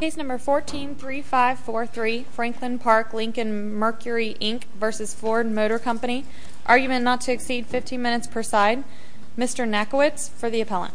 Case number 143543 Franklin Park Lincoln Mercury Inc v. Ford Motor Company Argument not to exceed 15 minutes per side Mr. Nackiewicz for the appellant Mr. Nackiewicz for the appellant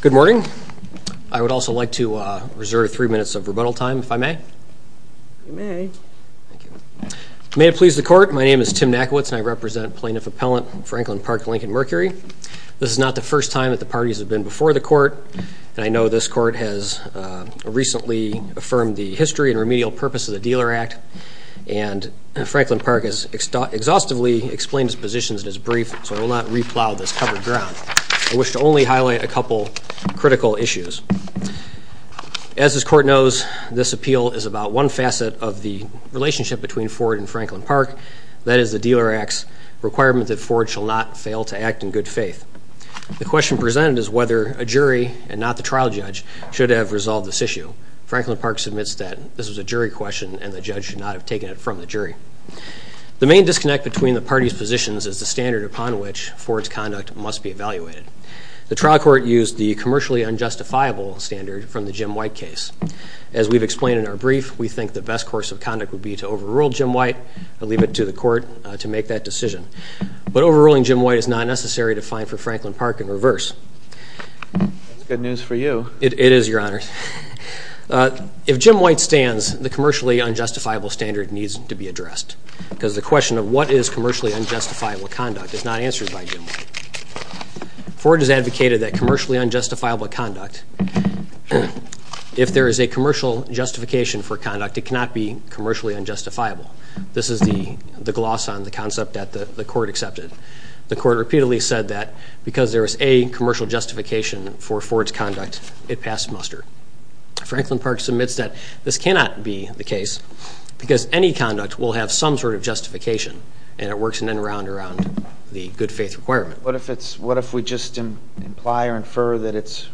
Good morning. I would also like to reserve three minutes of rebuttal time if I may. You may. May it please the court, my name is Tim Nackiewicz and I represent plaintiff appellant Franklin Park Lincoln Mercury. This is not the first time that the parties have been before the court, and I know this court has recently affirmed the history and remedial purpose of the Dealer Act. And Franklin Park has exhaustively explained his positions in his brief, so I will not replow this covered ground. I wish to only highlight a couple critical issues. As this court knows, this appeal is about one facet of the relationship between Ford and Franklin Park. That is the Dealer Act's requirement that Ford shall not fail to act in good faith. The question presented is whether a jury, and not the trial judge, should have resolved this issue. Franklin Park submits that this was a jury question and the judge should not have taken it from the jury. The main disconnect between the parties' positions is the standard upon which Ford's conduct must be evaluated. The trial court used the commercially unjustifiable standard from the Jim White case. As we've explained in our brief, we think the best course of conduct would be to overrule Jim White and leave it to the court to make that decision. But overruling Jim White is not necessary to find for Franklin Park in reverse. That's good news for you. It is, Your Honor. If Jim White stands, the commercially unjustifiable standard needs to be addressed, because the question of what is commercially unjustifiable conduct is not answered by Jim White. Ford has advocated that commercially unjustifiable conduct, if there is a commercial justification for conduct, it cannot be commercially unjustifiable. This is the gloss on the concept that the court accepted. The court repeatedly said that because there is a commercial justification for Ford's conduct, it passed muster. Franklin Park submits that this cannot be the case, because any conduct will have some sort of justification, and it works in and around the good faith requirement. What if we just imply or infer that it's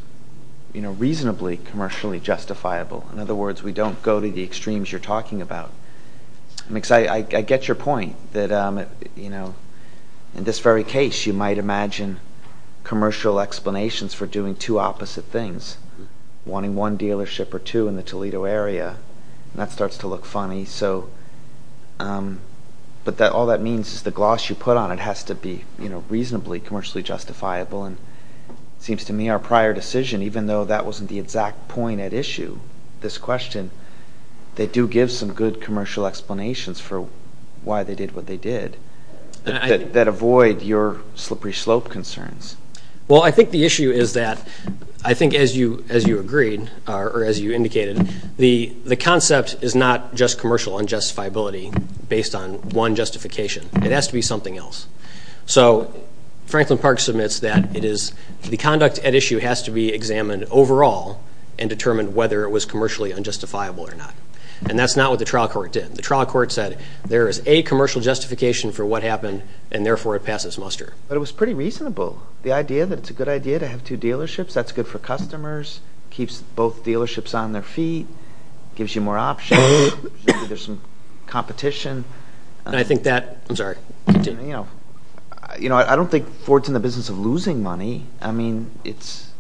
reasonably commercially justifiable? In other words, we don't go to the extremes you're talking about. I get your point, that in this very case, you might imagine commercial explanations for doing two opposite things, wanting one dealership or two in the Toledo area, and that starts to look funny. But all that means is the gloss you put on it has to be reasonably commercially justifiable, and it seems to me our prior decision, even though that wasn't the exact point at issue, this question, they do give some good commercial explanations for why they did what they did that avoid your slippery slope concerns. Well, I think the issue is that I think as you agreed or as you indicated, the concept is not just commercial unjustifiability based on one justification. It has to be something else. So Franklin Park submits that the conduct at issue has to be examined overall and determine whether it was commercially unjustifiable or not. And that's not what the trial court did. The trial court said there is a commercial justification for what happened, and therefore it passes muster. But it was pretty reasonable. The idea that it's a good idea to have two dealerships, that's good for customers, keeps both dealerships on their feet, gives you more options, gives you some competition. And I think that, I'm sorry. I don't think Ford's in the business of losing money. I mean, it's,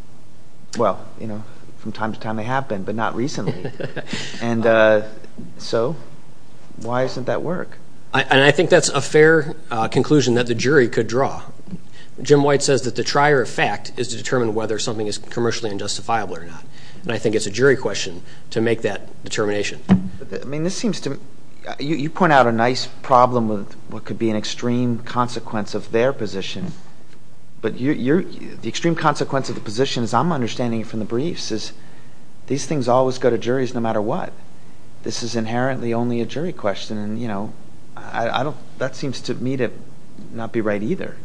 well, you know, from time to time they have been, but not recently. And so why isn't that work? And I think that's a fair conclusion that the jury could draw. Jim White says that the trier of fact is to determine whether something is commercially unjustifiable or not. And I think it's a jury question to make that determination. I mean, this seems to me, you point out a nice problem with what could be an extreme consequence of their position. But the extreme consequence of the position, as I'm understanding it from the briefs, is these things always go to juries no matter what. This is inherently only a jury question. And, you know, that seems to me to not be right either.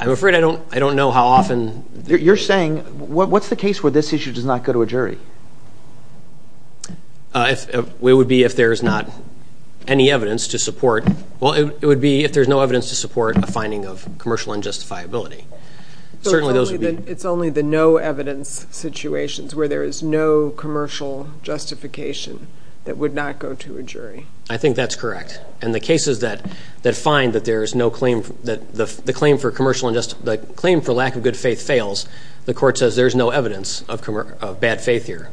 I'm afraid I don't know how often. You're saying, what's the case where this issue does not go to a jury? It would be if there's not any evidence to support. Well, it would be if there's no evidence to support a finding of commercial unjustifiability. It's only the no evidence situations where there is no commercial justification that would not go to a jury. I think that's correct. And the cases that find that there is no claim, that the claim for lack of good faith fails, the court says there's no evidence of bad faith here.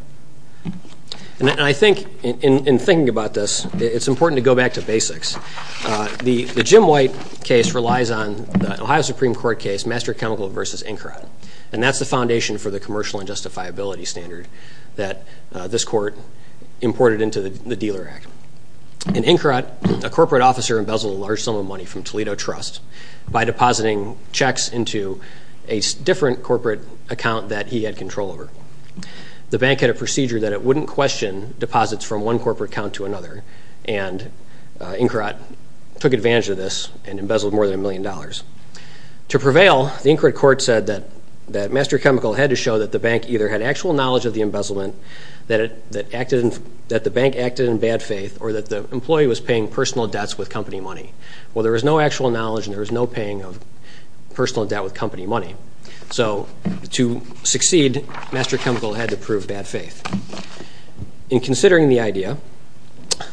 And I think, in thinking about this, it's important to go back to basics. The Jim White case relies on the Ohio Supreme Court case Master Chemical v. Inkarat, and that's the foundation for the commercial unjustifiability standard that this court imported into the Dealer Act. In Inkarat, a corporate officer embezzled a large sum of money from Toledo Trust by depositing checks into a different corporate account that he had control over. The bank had a procedure that it wouldn't question deposits from one corporate account to another, and Inkarat took advantage of this and embezzled more than a million dollars. To prevail, the Inkarat court said that Master Chemical had to show that the bank either had actual knowledge of the embezzlement, that the bank acted in bad faith, or that the employee was paying personal debts with company money. Well, there was no actual knowledge and there was no paying of personal debt with company money. So to succeed, Master Chemical had to prove bad faith. In considering the idea,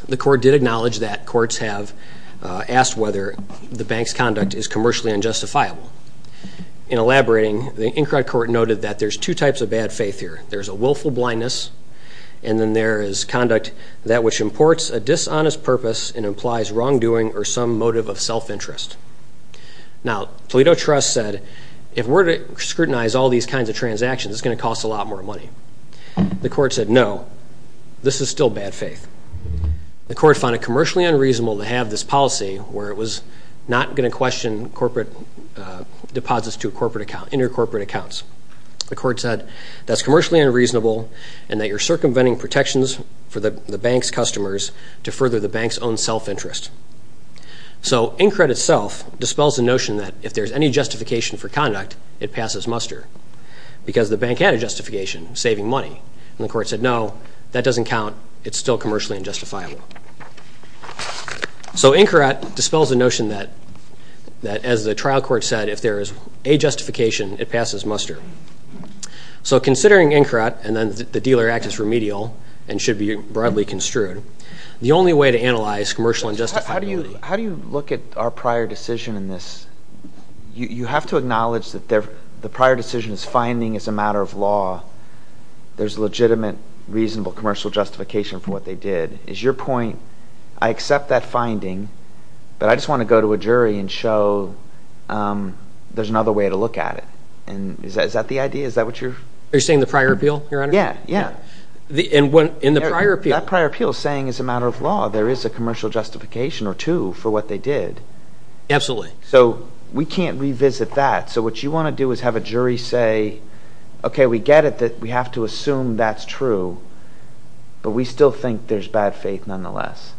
the court did acknowledge that courts have asked whether the bank's conduct is commercially unjustifiable. In elaborating, the Inkarat court noted that there's two types of bad faith here. There's a willful blindness, and then there is conduct that which imports a dishonest purpose and implies wrongdoing or some motive of self-interest. Now, Toledo Trust said, if we're to scrutinize all these kinds of transactions, it's going to cost a lot more money. The court said, no, this is still bad faith. The court found it commercially unreasonable to have this policy where it was not going to question corporate deposits to intercorporate accounts. The court said, that's commercially unreasonable and that you're circumventing protections for the bank's customers to further the bank's own self-interest. So Inkarat itself dispels the notion that if there's any justification for conduct, it passes muster because the bank had a justification, saving money. And the court said, no, that doesn't count. It's still commercially unjustifiable. So Inkarat dispels the notion that, as the trial court said, if there is a justification, it passes muster. So considering Inkarat, and then the dealer act is remedial and should be broadly construed, the only way to analyze commercial unjustifiability. How do you look at our prior decision in this? You have to acknowledge that the prior decision's finding is a matter of law. There's legitimate, reasonable commercial justification for what they did. Is your point, I accept that finding, but I just want to go to a jury and show there's another way to look at it. Is that the idea? Is that what you're – Are you saying the prior appeal, Your Honor? Yeah, yeah. In the prior appeal. That prior appeal is saying, as a matter of law, there is a commercial justification or two for what they did. Absolutely. So we can't revisit that. So what you want to do is have a jury say, okay, we get it that we have to assume that's true, but we still think there's bad faith nonetheless.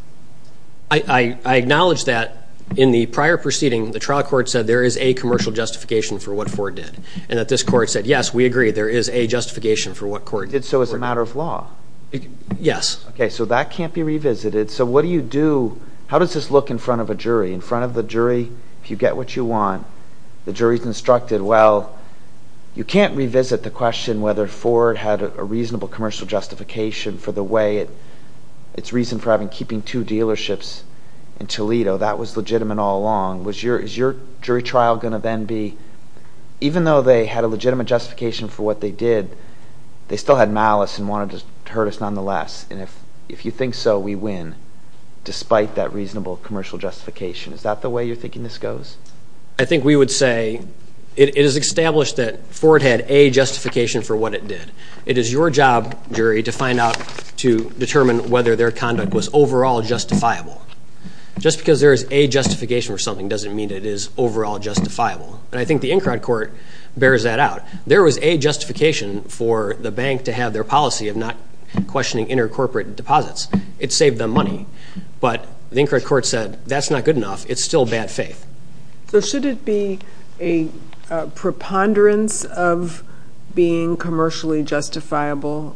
I acknowledge that in the prior proceeding, the trial court said there is a commercial justification for what Ford did and that this court said, yes, we agree, there is a justification for what Ford did. But he did so as a matter of law. Yes. Okay, so that can't be revisited. So what do you do – how does this look in front of a jury? In front of the jury, if you get what you want, the jury's instructed, well, you can't revisit the question whether Ford had a reasonable commercial justification for the way it – its reason for having – keeping two dealerships in Toledo. That was legitimate all along. Is your jury trial going to then be – even though they had a legitimate justification for what they did, they still had malice and wanted to hurt us nonetheless. And if you think so, we win, despite that reasonable commercial justification. Is that the way you're thinking this goes? I think we would say it is established that Ford had a justification for what it did. It is your job, jury, to find out to determine whether their conduct was overall justifiable. Just because there is a justification for something doesn't mean it is overall justifiable. And I think the Encrod court bears that out. There was a justification for the bank to have their policy of not questioning intercorporate deposits. It saved them money. But the Encrod court said, that's not good enough. It's still bad faith. So should it be a preponderance of being commercially justifiable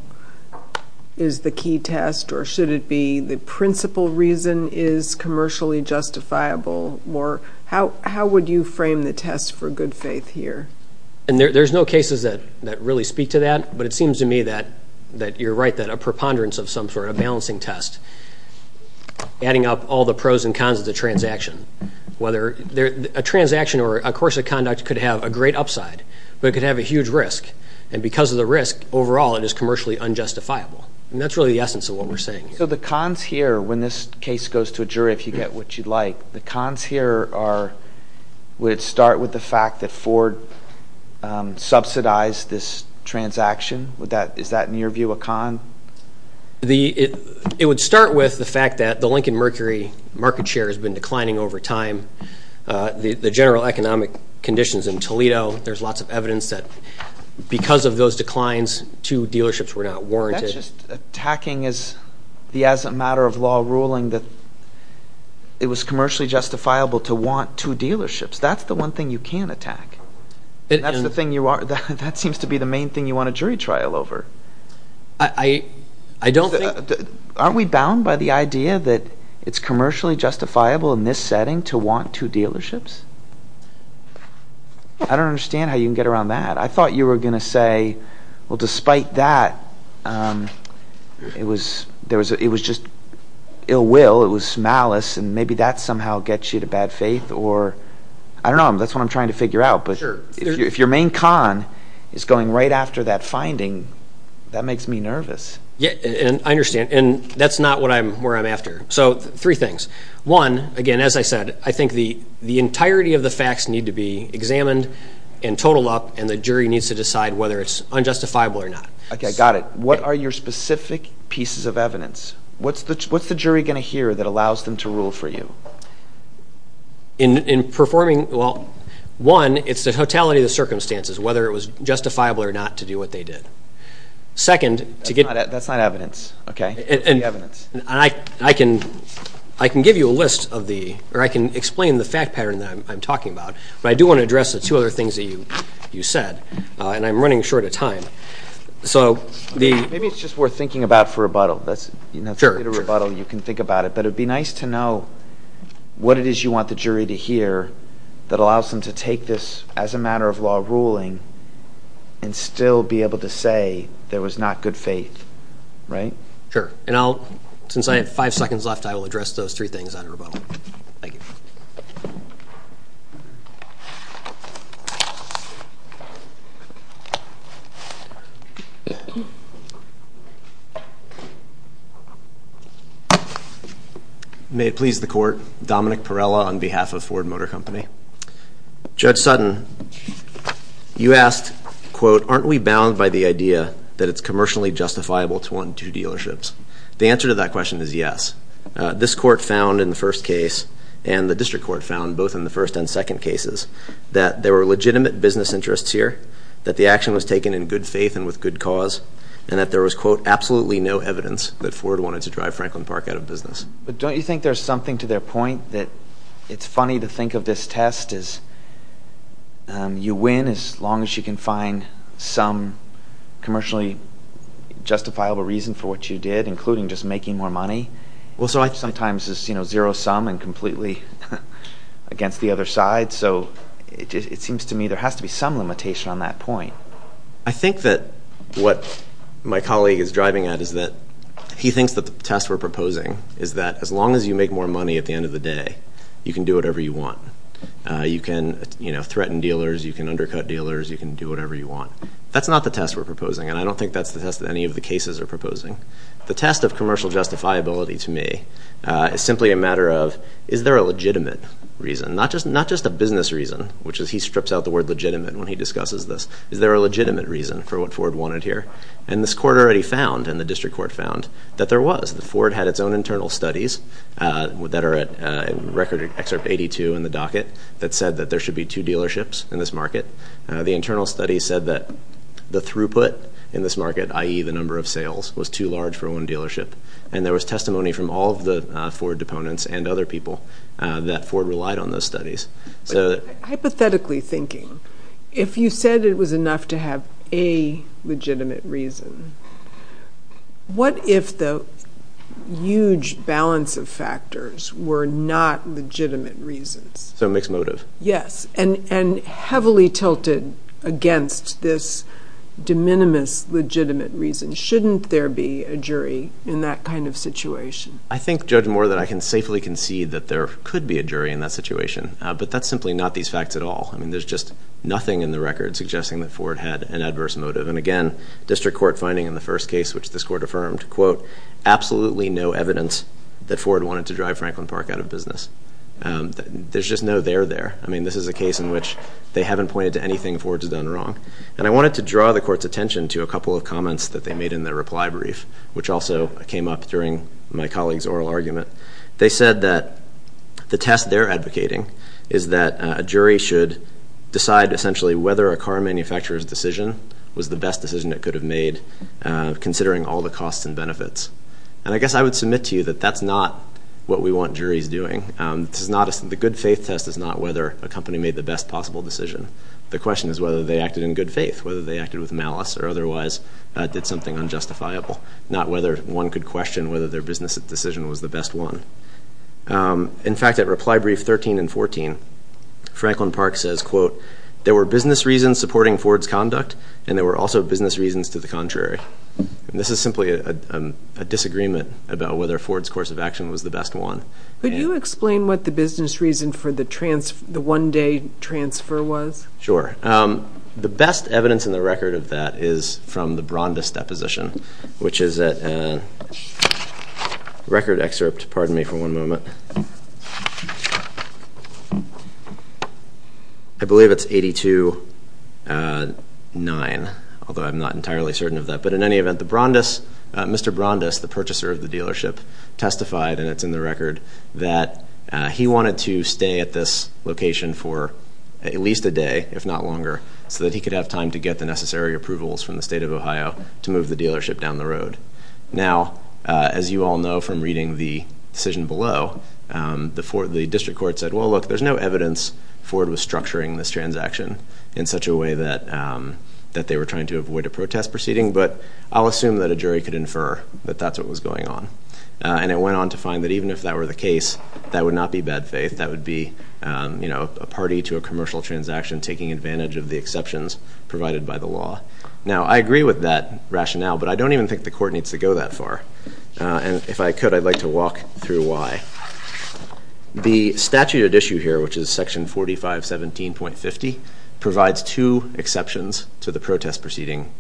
is the key test, or should it be the principal reason is commercially justifiable, or how would you frame the test for good faith here? And there's no cases that really speak to that, but it seems to me that you're right that a preponderance of some sort, a balancing test, adding up all the pros and cons of the transaction, whether a transaction or a course of conduct could have a great upside, but it could have a huge risk. And because of the risk, overall it is commercially unjustifiable. And that's really the essence of what we're saying here. So the cons here, when this case goes to a jury, if you get what you'd like, the cons here are, would it start with the fact that Ford subsidized this transaction? Is that in your view a con? It would start with the fact that the Lincoln Mercury market share has been declining over time. The general economic conditions in Toledo, there's lots of evidence that because of those declines, two dealerships were not warranted. So you're just attacking as a matter of law ruling that it was commercially justifiable to want two dealerships. That's the one thing you can't attack. That seems to be the main thing you want a jury trial over. Aren't we bound by the idea that it's commercially justifiable in this setting to want two dealerships? I don't understand how you can get around that. I thought you were going to say, well, despite that, it was just ill will, it was malice, and maybe that somehow gets you to bad faith. I don't know. That's what I'm trying to figure out. But if your main con is going right after that finding, that makes me nervous. I understand. And that's not where I'm after. So three things. One, again, as I said, I think the entirety of the facts need to be examined and totaled up, and the jury needs to decide whether it's unjustifiable or not. Okay, got it. What are your specific pieces of evidence? What's the jury going to hear that allows them to rule for you? In performing, well, one, it's the totality of the circumstances, whether it was justifiable or not to do what they did. That's not evidence. I can give you a list of the, or I can explain the fact pattern that I'm talking about, but I do want to address the two other things that you said, and I'm running short of time. Maybe it's just worth thinking about for rebuttal. That's a bit of rebuttal. You can think about it. But it would be nice to know what it is you want the jury to hear that allows them to take this as a matter of law ruling and still be able to say there was not good faith, right? Sure. Since I have five seconds left, I will address those three things on rebuttal. Thank you. May it please the Court. Dominic Perella on behalf of Ford Motor Company. Judge Sutton, you asked, quote, The answer to that question is yes. This Court found in the first case, and the District Court found both in the first and second cases, that there were legitimate business interests here, that the action was taken in good faith and with good cause, and that there was, quote, absolutely no evidence that Ford wanted to drive Franklin Park out of business. But don't you think there's something to their point that it's funny to think of this test as you win as long as you can find some commercially justifiable reason for what you did, including just making more money, which sometimes is zero-sum and completely against the other side. So it seems to me there has to be some limitation on that point. I think that what my colleague is driving at is that he thinks that the test we're proposing is that as long as you make more money at the end of the day, you can do whatever you want. You can, you know, threaten dealers. You can undercut dealers. You can do whatever you want. That's not the test we're proposing, and I don't think that's the test that any of the cases are proposing. The test of commercial justifiability to me is simply a matter of is there a legitimate reason, not just a business reason, which is he strips out the word legitimate when he discusses this. Is there a legitimate reason for what Ford wanted here? And this Court already found, and the District Court found, that there was. Ford had its own internal studies that are at Record Excerpt 82 in the docket that said that there should be two dealerships in this market. The internal study said that the throughput in this market, i.e., the number of sales, was too large for one dealership, and there was testimony from all of the Ford deponents and other people that Ford relied on those studies. Hypothetically thinking, if you said it was enough to have a legitimate reason, what if the huge balance of factors were not legitimate reasons? So a mixed motive. Yes, and heavily tilted against this de minimis legitimate reason. Shouldn't there be a jury in that kind of situation? I think, Judge Moore, that I can safely concede that there could be a jury in that situation, but that's simply not these facts at all. I mean, there's just nothing in the record suggesting that Ford had an adverse motive. And again, district court finding in the first case, which this court affirmed, quote, absolutely no evidence that Ford wanted to drive Franklin Park out of business. There's just no there there. I mean, this is a case in which they haven't pointed to anything Ford's done wrong. And I wanted to draw the court's attention to a couple of comments that they made in their reply brief, which also came up during my colleague's oral argument. They said that the test they're advocating is that a jury should decide, essentially, whether a car manufacturer's decision was the best decision it could have made, considering all the costs and benefits. And I guess I would submit to you that that's not what we want juries doing. The good faith test is not whether a company made the best possible decision. The question is whether they acted in good faith, whether they acted with malice, or otherwise did something unjustifiable, not whether one could question whether their business decision was the best one. In fact, at reply brief 13 and 14, Franklin Park says, quote, there were business reasons supporting Ford's conduct, and there were also business reasons to the contrary. And this is simply a disagreement about whether Ford's course of action was the best one. Could you explain what the business reason for the one-day transfer was? Sure. The best evidence in the record of that is from the Brondis deposition, which is a record excerpt. Pardon me for one moment. I believe it's 82-9, although I'm not entirely certain of that. But in any event, Mr. Brondis, the purchaser of the dealership, testified, and it's in the record, that he wanted to stay at this location for at least a day, if not longer, so that he could have time to get the necessary approvals from the state of Ohio to move the dealership down the road. Now, as you all know from reading the decision below, the district court said, well, look, there's no evidence Ford was structuring this transaction in such a way that they were trying to avoid a protest proceeding, but I'll assume that a jury could infer that that's what was going on. And it went on to find that even if that were the case, that would not be bad faith. That would be a party to a commercial transaction taking advantage of the exceptions provided by the law. Now, I agree with that rationale, but I don't even think the court needs to go that far. And if I could, I'd like to walk through why. The statute at issue here, which is Section 4517.50, provides two exceptions to the protest proceeding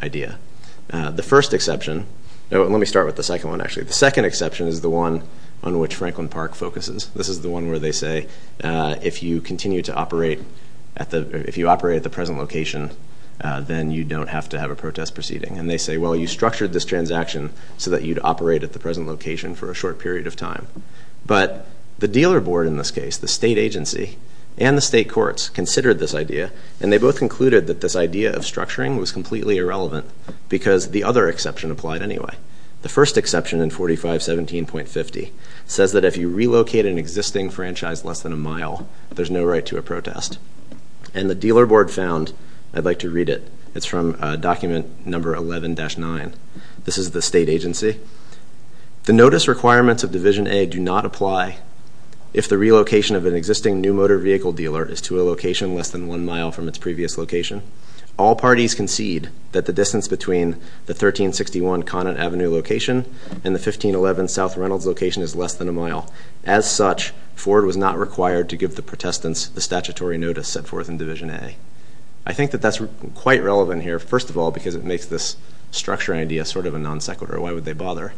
idea. The first exception, let me start with the second one, actually. The second exception is the one on which Franklin Park focuses. This is the one where they say if you continue to operate at the present location, then you don't have to have a protest proceeding. And they say, well, you structured this transaction so that you'd operate at the present location for a short period of time. But the dealer board in this case, the state agency, and the state courts considered this idea, and they both concluded that this idea of structuring was completely irrelevant because the other exception applied anyway. The first exception in 4517.50 says that if you relocate an existing franchise less than a mile, there's no right to a protest. And the dealer board found, I'd like to read it. It's from document number 11-9. This is the state agency. The notice requirements of Division A do not apply if the relocation of an existing new motor vehicle dealer is to a location less than one mile from its previous location. All parties concede that the distance between the 1361 Conant Avenue location and the 1511 South Reynolds location is less than a mile. As such, Ford was not required to give the protestants the statutory notice set forth in Division A. I think that that's quite relevant here, first of all, because it makes this structure idea sort of a non sequitur. Why would they bother?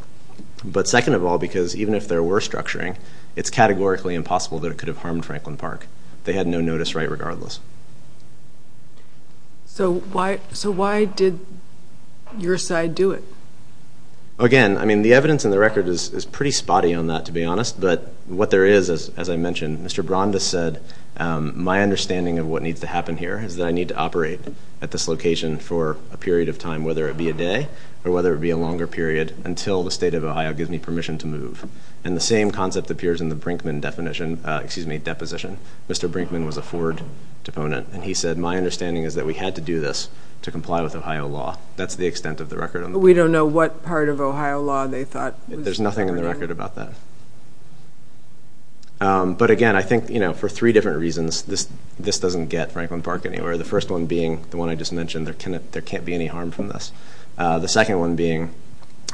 But second of all, because even if there were structuring, it's categorically impossible that it could have harmed Franklin Park. They had no notice right regardless. So why did your side do it? Again, I mean, the evidence in the record is pretty spotty on that, to be honest. But what there is, as I mentioned, Mr. Brondis said, my understanding of what needs to happen here is that I need to operate at this location for a period of time, whether it be a day or whether it be a longer period, until the state of Ohio gives me permission to move. And the same concept appears in the Brinkman deposition. Mr. Brinkman was a Ford proponent, and he said, my understanding is that we had to do this to comply with Ohio law. That's the extent of the record. But we don't know what part of Ohio law they thought was important. There's nothing in the record about that. But again, I think for three different reasons, this doesn't get Franklin Park anywhere. The first one being the one I just mentioned, there can't be any harm from this. The second one being,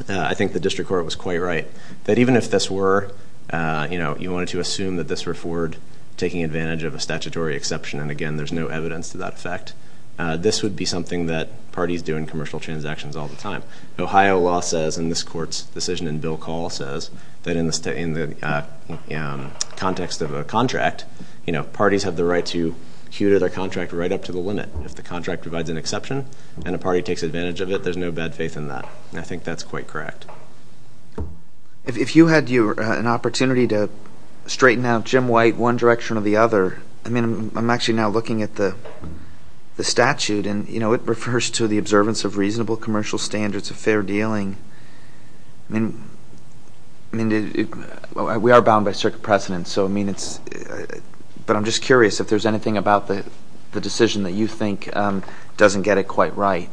I think the district court was quite right, that even if this were, you know, you wanted to assume that this were Ford taking advantage of a statutory exception, and again, there's no evidence to that effect, this would be something that parties do in commercial transactions all the time. Ohio law says, and this court's decision in Bill Call says, that in the context of a contract, you know, parties have the right to hew their contract right up to the limit. If the contract provides an exception, and a party takes advantage of it, there's no bad faith in that. And I think that's quite correct. If you had an opportunity to straighten out Jim White one direction or the other, I mean, I'm actually now looking at the statute, and, you know, it refers to the observance of reasonable commercial standards of fair dealing. I mean, we are bound by circuit precedence, so I mean it's, but I'm just curious if there's anything about the decision that you think doesn't get it quite right.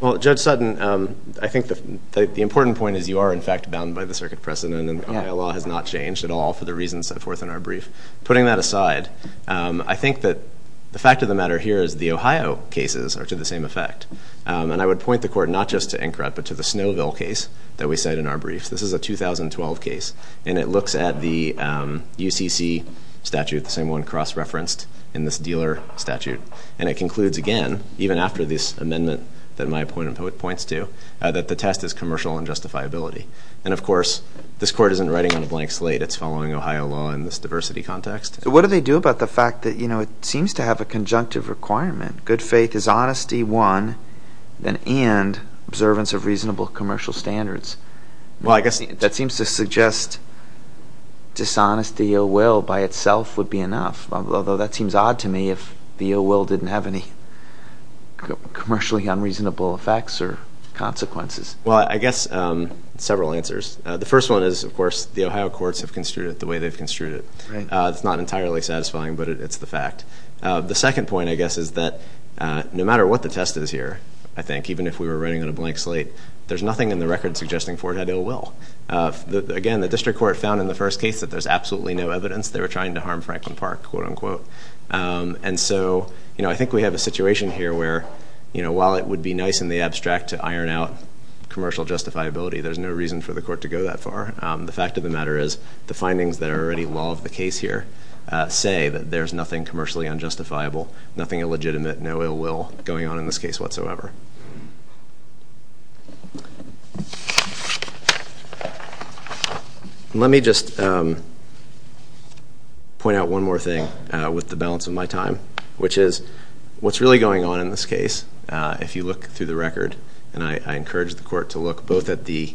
Well, Judge Sutton, I think the important point is you are, in fact, bound by the circuit precedent, and Ohio law has not changed at all for the reasons set forth in our brief. Putting that aside, I think that the fact of the matter here is the Ohio cases are to the same effect, and I would point the court not just to INCRA, but to the Snowville case that we cite in our brief. This is a 2012 case, and it looks at the UCC statute, the same one cross-referenced in this dealer statute, and it concludes again, even after this amendment that my opponent points to, that the test is commercial unjustifiability. And, of course, this court isn't writing on a blank slate. It's following Ohio law in this diversity context. So what do they do about the fact that, you know, it seems to have a conjunctive requirement, good faith is honesty one, and observance of reasonable commercial standards? Well, I guess that seems to suggest dishonesty or will by itself would be enough, although that seems odd to me if the ill will didn't have any commercially unreasonable effects or consequences. Well, I guess several answers. The first one is, of course, the Ohio courts have construed it the way they've construed it. It's not entirely satisfying, but it's the fact. The second point, I guess, is that no matter what the test is here, I think, even if we were writing on a blank slate, there's nothing in the record suggesting Ford had ill will. Again, the district court found in the first case that there's absolutely no evidence. They were trying to harm Franklin Park, quote, unquote. And so, you know, I think we have a situation here where, you know, while it would be nice in the abstract to iron out commercial justifiability, there's no reason for the court to go that far. The fact of the matter is the findings that are already law of the case here say that there's nothing commercially unjustifiable, nothing illegitimate, no ill will going on in this case whatsoever. Let me just point out one more thing with the balance of my time, which is what's really going on in this case, if you look through the record, and I encourage the court to look both at the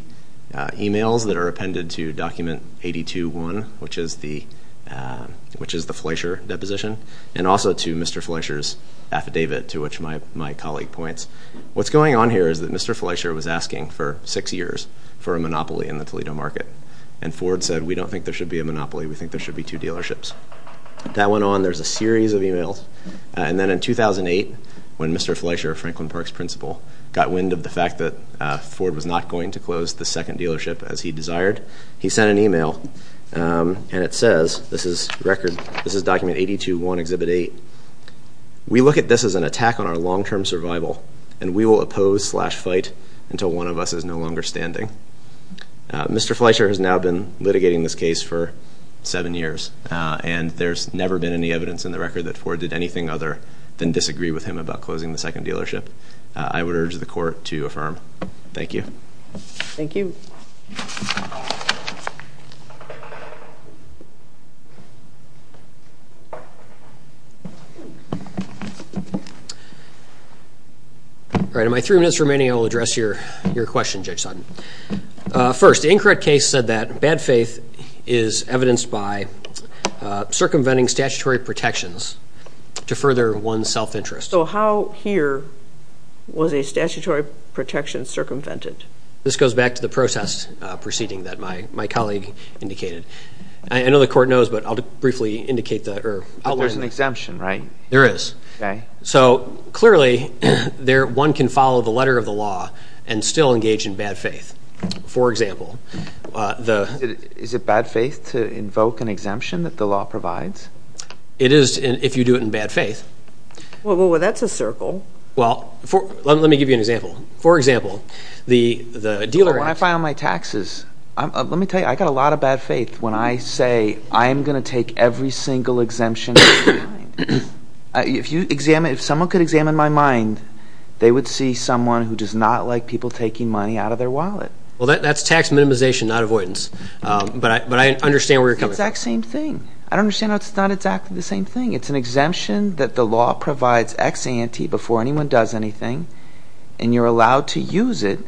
e-mails that are appended to document 82-1, which is the Fleischer deposition, and also to Mr. Fleischer's affidavit, to which my colleague points. What's going on here is that Mr. Fleischer was asking for six years for a monopoly in the Toledo market, and Ford said, we don't think there should be a monopoly. We think there should be two dealerships. That went on. There's a series of e-mails. And then in 2008, when Mr. Fleischer, Franklin Park's principal, got wind of the fact that Ford was not going to close the second dealership as he desired, he sent an e-mail, and it says, this is document 82-1, Exhibit 8, we look at this as an attack on our long-term survival, and we will oppose slash fight until one of us is no longer standing. Mr. Fleischer has now been litigating this case for seven years, and there's never been any evidence in the record that Ford did anything other than disagree with him about closing the second dealership. I would urge the court to affirm. Thank you. Thank you. All right, in my three minutes remaining, I will address your question, Judge Sutton. First, the incorrect case said that bad faith is evidenced by circumventing statutory protections to further one's self-interest. So how here was a statutory protection circumvented? This goes back to the process proceeding that my colleague indicated. I know the court knows, but I'll briefly indicate that. There's an exemption, right? There is. Okay. So clearly, one can follow the letter of the law and still engage in bad faith. For example, the – Is it bad faith to invoke an exemption that the law provides? It is if you do it in bad faith. Well, that's a circle. Well, let me give you an example. For example, the dealer – When I file my taxes, let me tell you, I got a lot of bad faith when I say, I am going to take every single exemption in my mind. If someone could examine my mind, they would see someone who does not like people taking money out of their wallet. Well, that's tax minimization, not avoidance. But I understand where you're coming from. It's the exact same thing. I don't understand how it's not exactly the same thing. It's an exemption that the law provides ex ante before anyone does anything, and you're allowed to use it.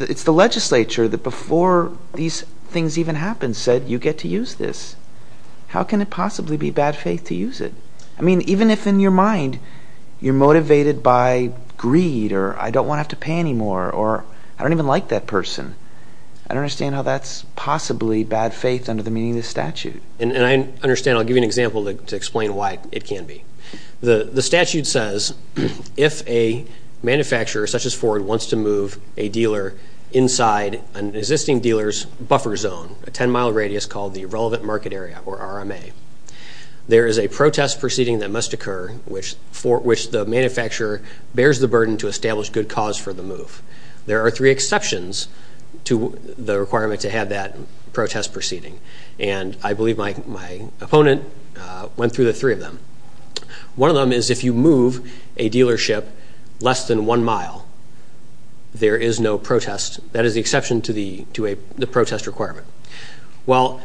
It's the legislature that before these things even happened said, you get to use this. How can it possibly be bad faith to use it? I mean, even if in your mind you're motivated by greed or I don't want to have to pay anymore or I don't even like that person, I don't understand how that's possibly bad faith under the meaning of the statute. And I understand. I'll give you an example to explain why it can be. The statute says if a manufacturer, such as Ford, wants to move a dealer inside an existing dealer's buffer zone, a 10-mile radius called the relevant market area, or RMA, there is a protest proceeding that must occur which the manufacturer bears the burden to establish good cause for the move. There are three exceptions to the requirement to have that protest proceeding, and I believe my opponent went through the three of them. One of them is if you move a dealership less than one mile, there is no protest. That is the exception to the protest requirement. Well,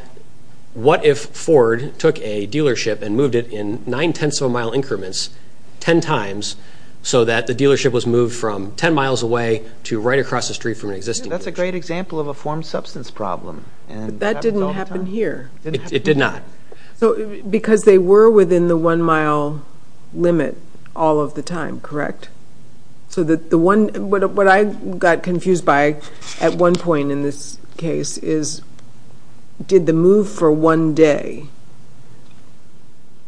what if Ford took a dealership and moved it in nine tenths of a mile increments ten times so that the dealership was moved from ten miles away to right across the street from an existing dealership? That's a great example of a formed substance problem. But that didn't happen here. It did not. Because they were within the one-mile limit all of the time, correct? So what I got confused by at one point in this case is did the move for one day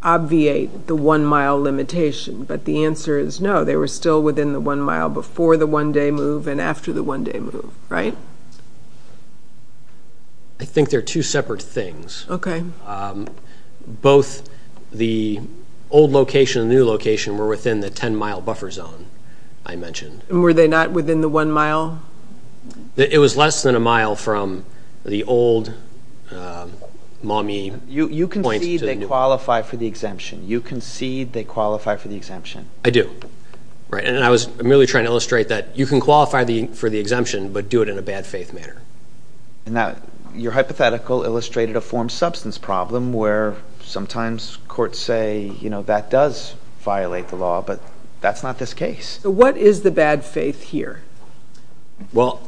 obviate the one-mile limitation? But the answer is no. They were still within the one mile before the one-day move and after the one-day move, right? I think they're two separate things. Okay. Both the old location and the new location were within the ten-mile buffer zone I mentioned. Were they not within the one mile? It was less than a mile from the old Maumee Point to the new one. You concede they qualify for the exemption. You concede they qualify for the exemption. I do. I'm merely trying to illustrate that you can qualify for the exemption, but do it in a bad faith manner. Your hypothetical illustrated a formed substance problem where sometimes courts say that does violate the law, but that's not this case. What is the bad faith here? To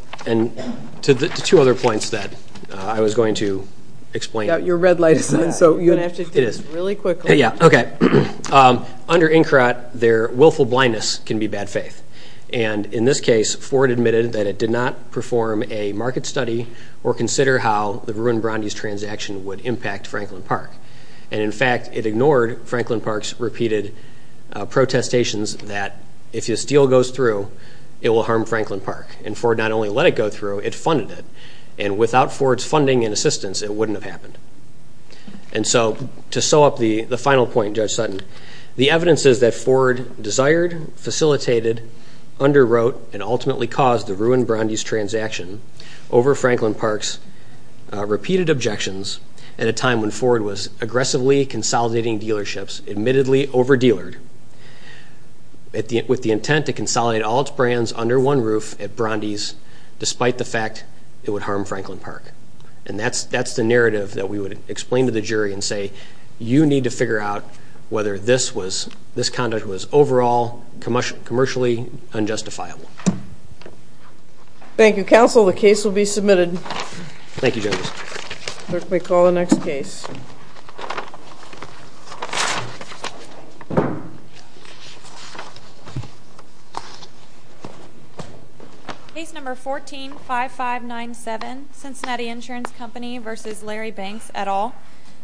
the two other points that I was going to explain. Your red light is on, so you're going to have to do this really quickly. Okay. Under INCRA, their willful blindness can be bad faith. In this case, Ford admitted that it did not perform a market study or consider how the Verun-Brandes transaction would impact Franklin Park. In fact, it ignored Franklin Park's repeated protestations that if this deal goes through, it will harm Franklin Park. Ford not only let it go through, it funded it. Without Ford's funding and assistance, it wouldn't have happened. And so to sew up the final point, Judge Sutton, the evidence is that Ford desired, facilitated, underwrote, and ultimately caused the Verun-Brandes transaction over Franklin Park's repeated objections at a time when Ford was aggressively consolidating dealerships, admittedly over-dealered, with the intent to consolidate all its brands under one roof at Brandes, despite the fact it would harm Franklin Park. And that's the narrative that we would explain to the jury and say, you need to figure out whether this conduct was overall commercially unjustifiable. Thank you, Counsel. The case will be submitted. Thank you, Judge. We'll call the next case. Case No. 14-5597, Cincinnati Insurance Company v. Larry Banks, et al.,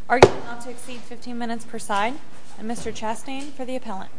arguing not to exceed 15 minutes per side. And Mr. Chastain for the appellant. Thank you. Thank you. Thank you. Thank you. Thank you. Thank you. Thank you. Thank you.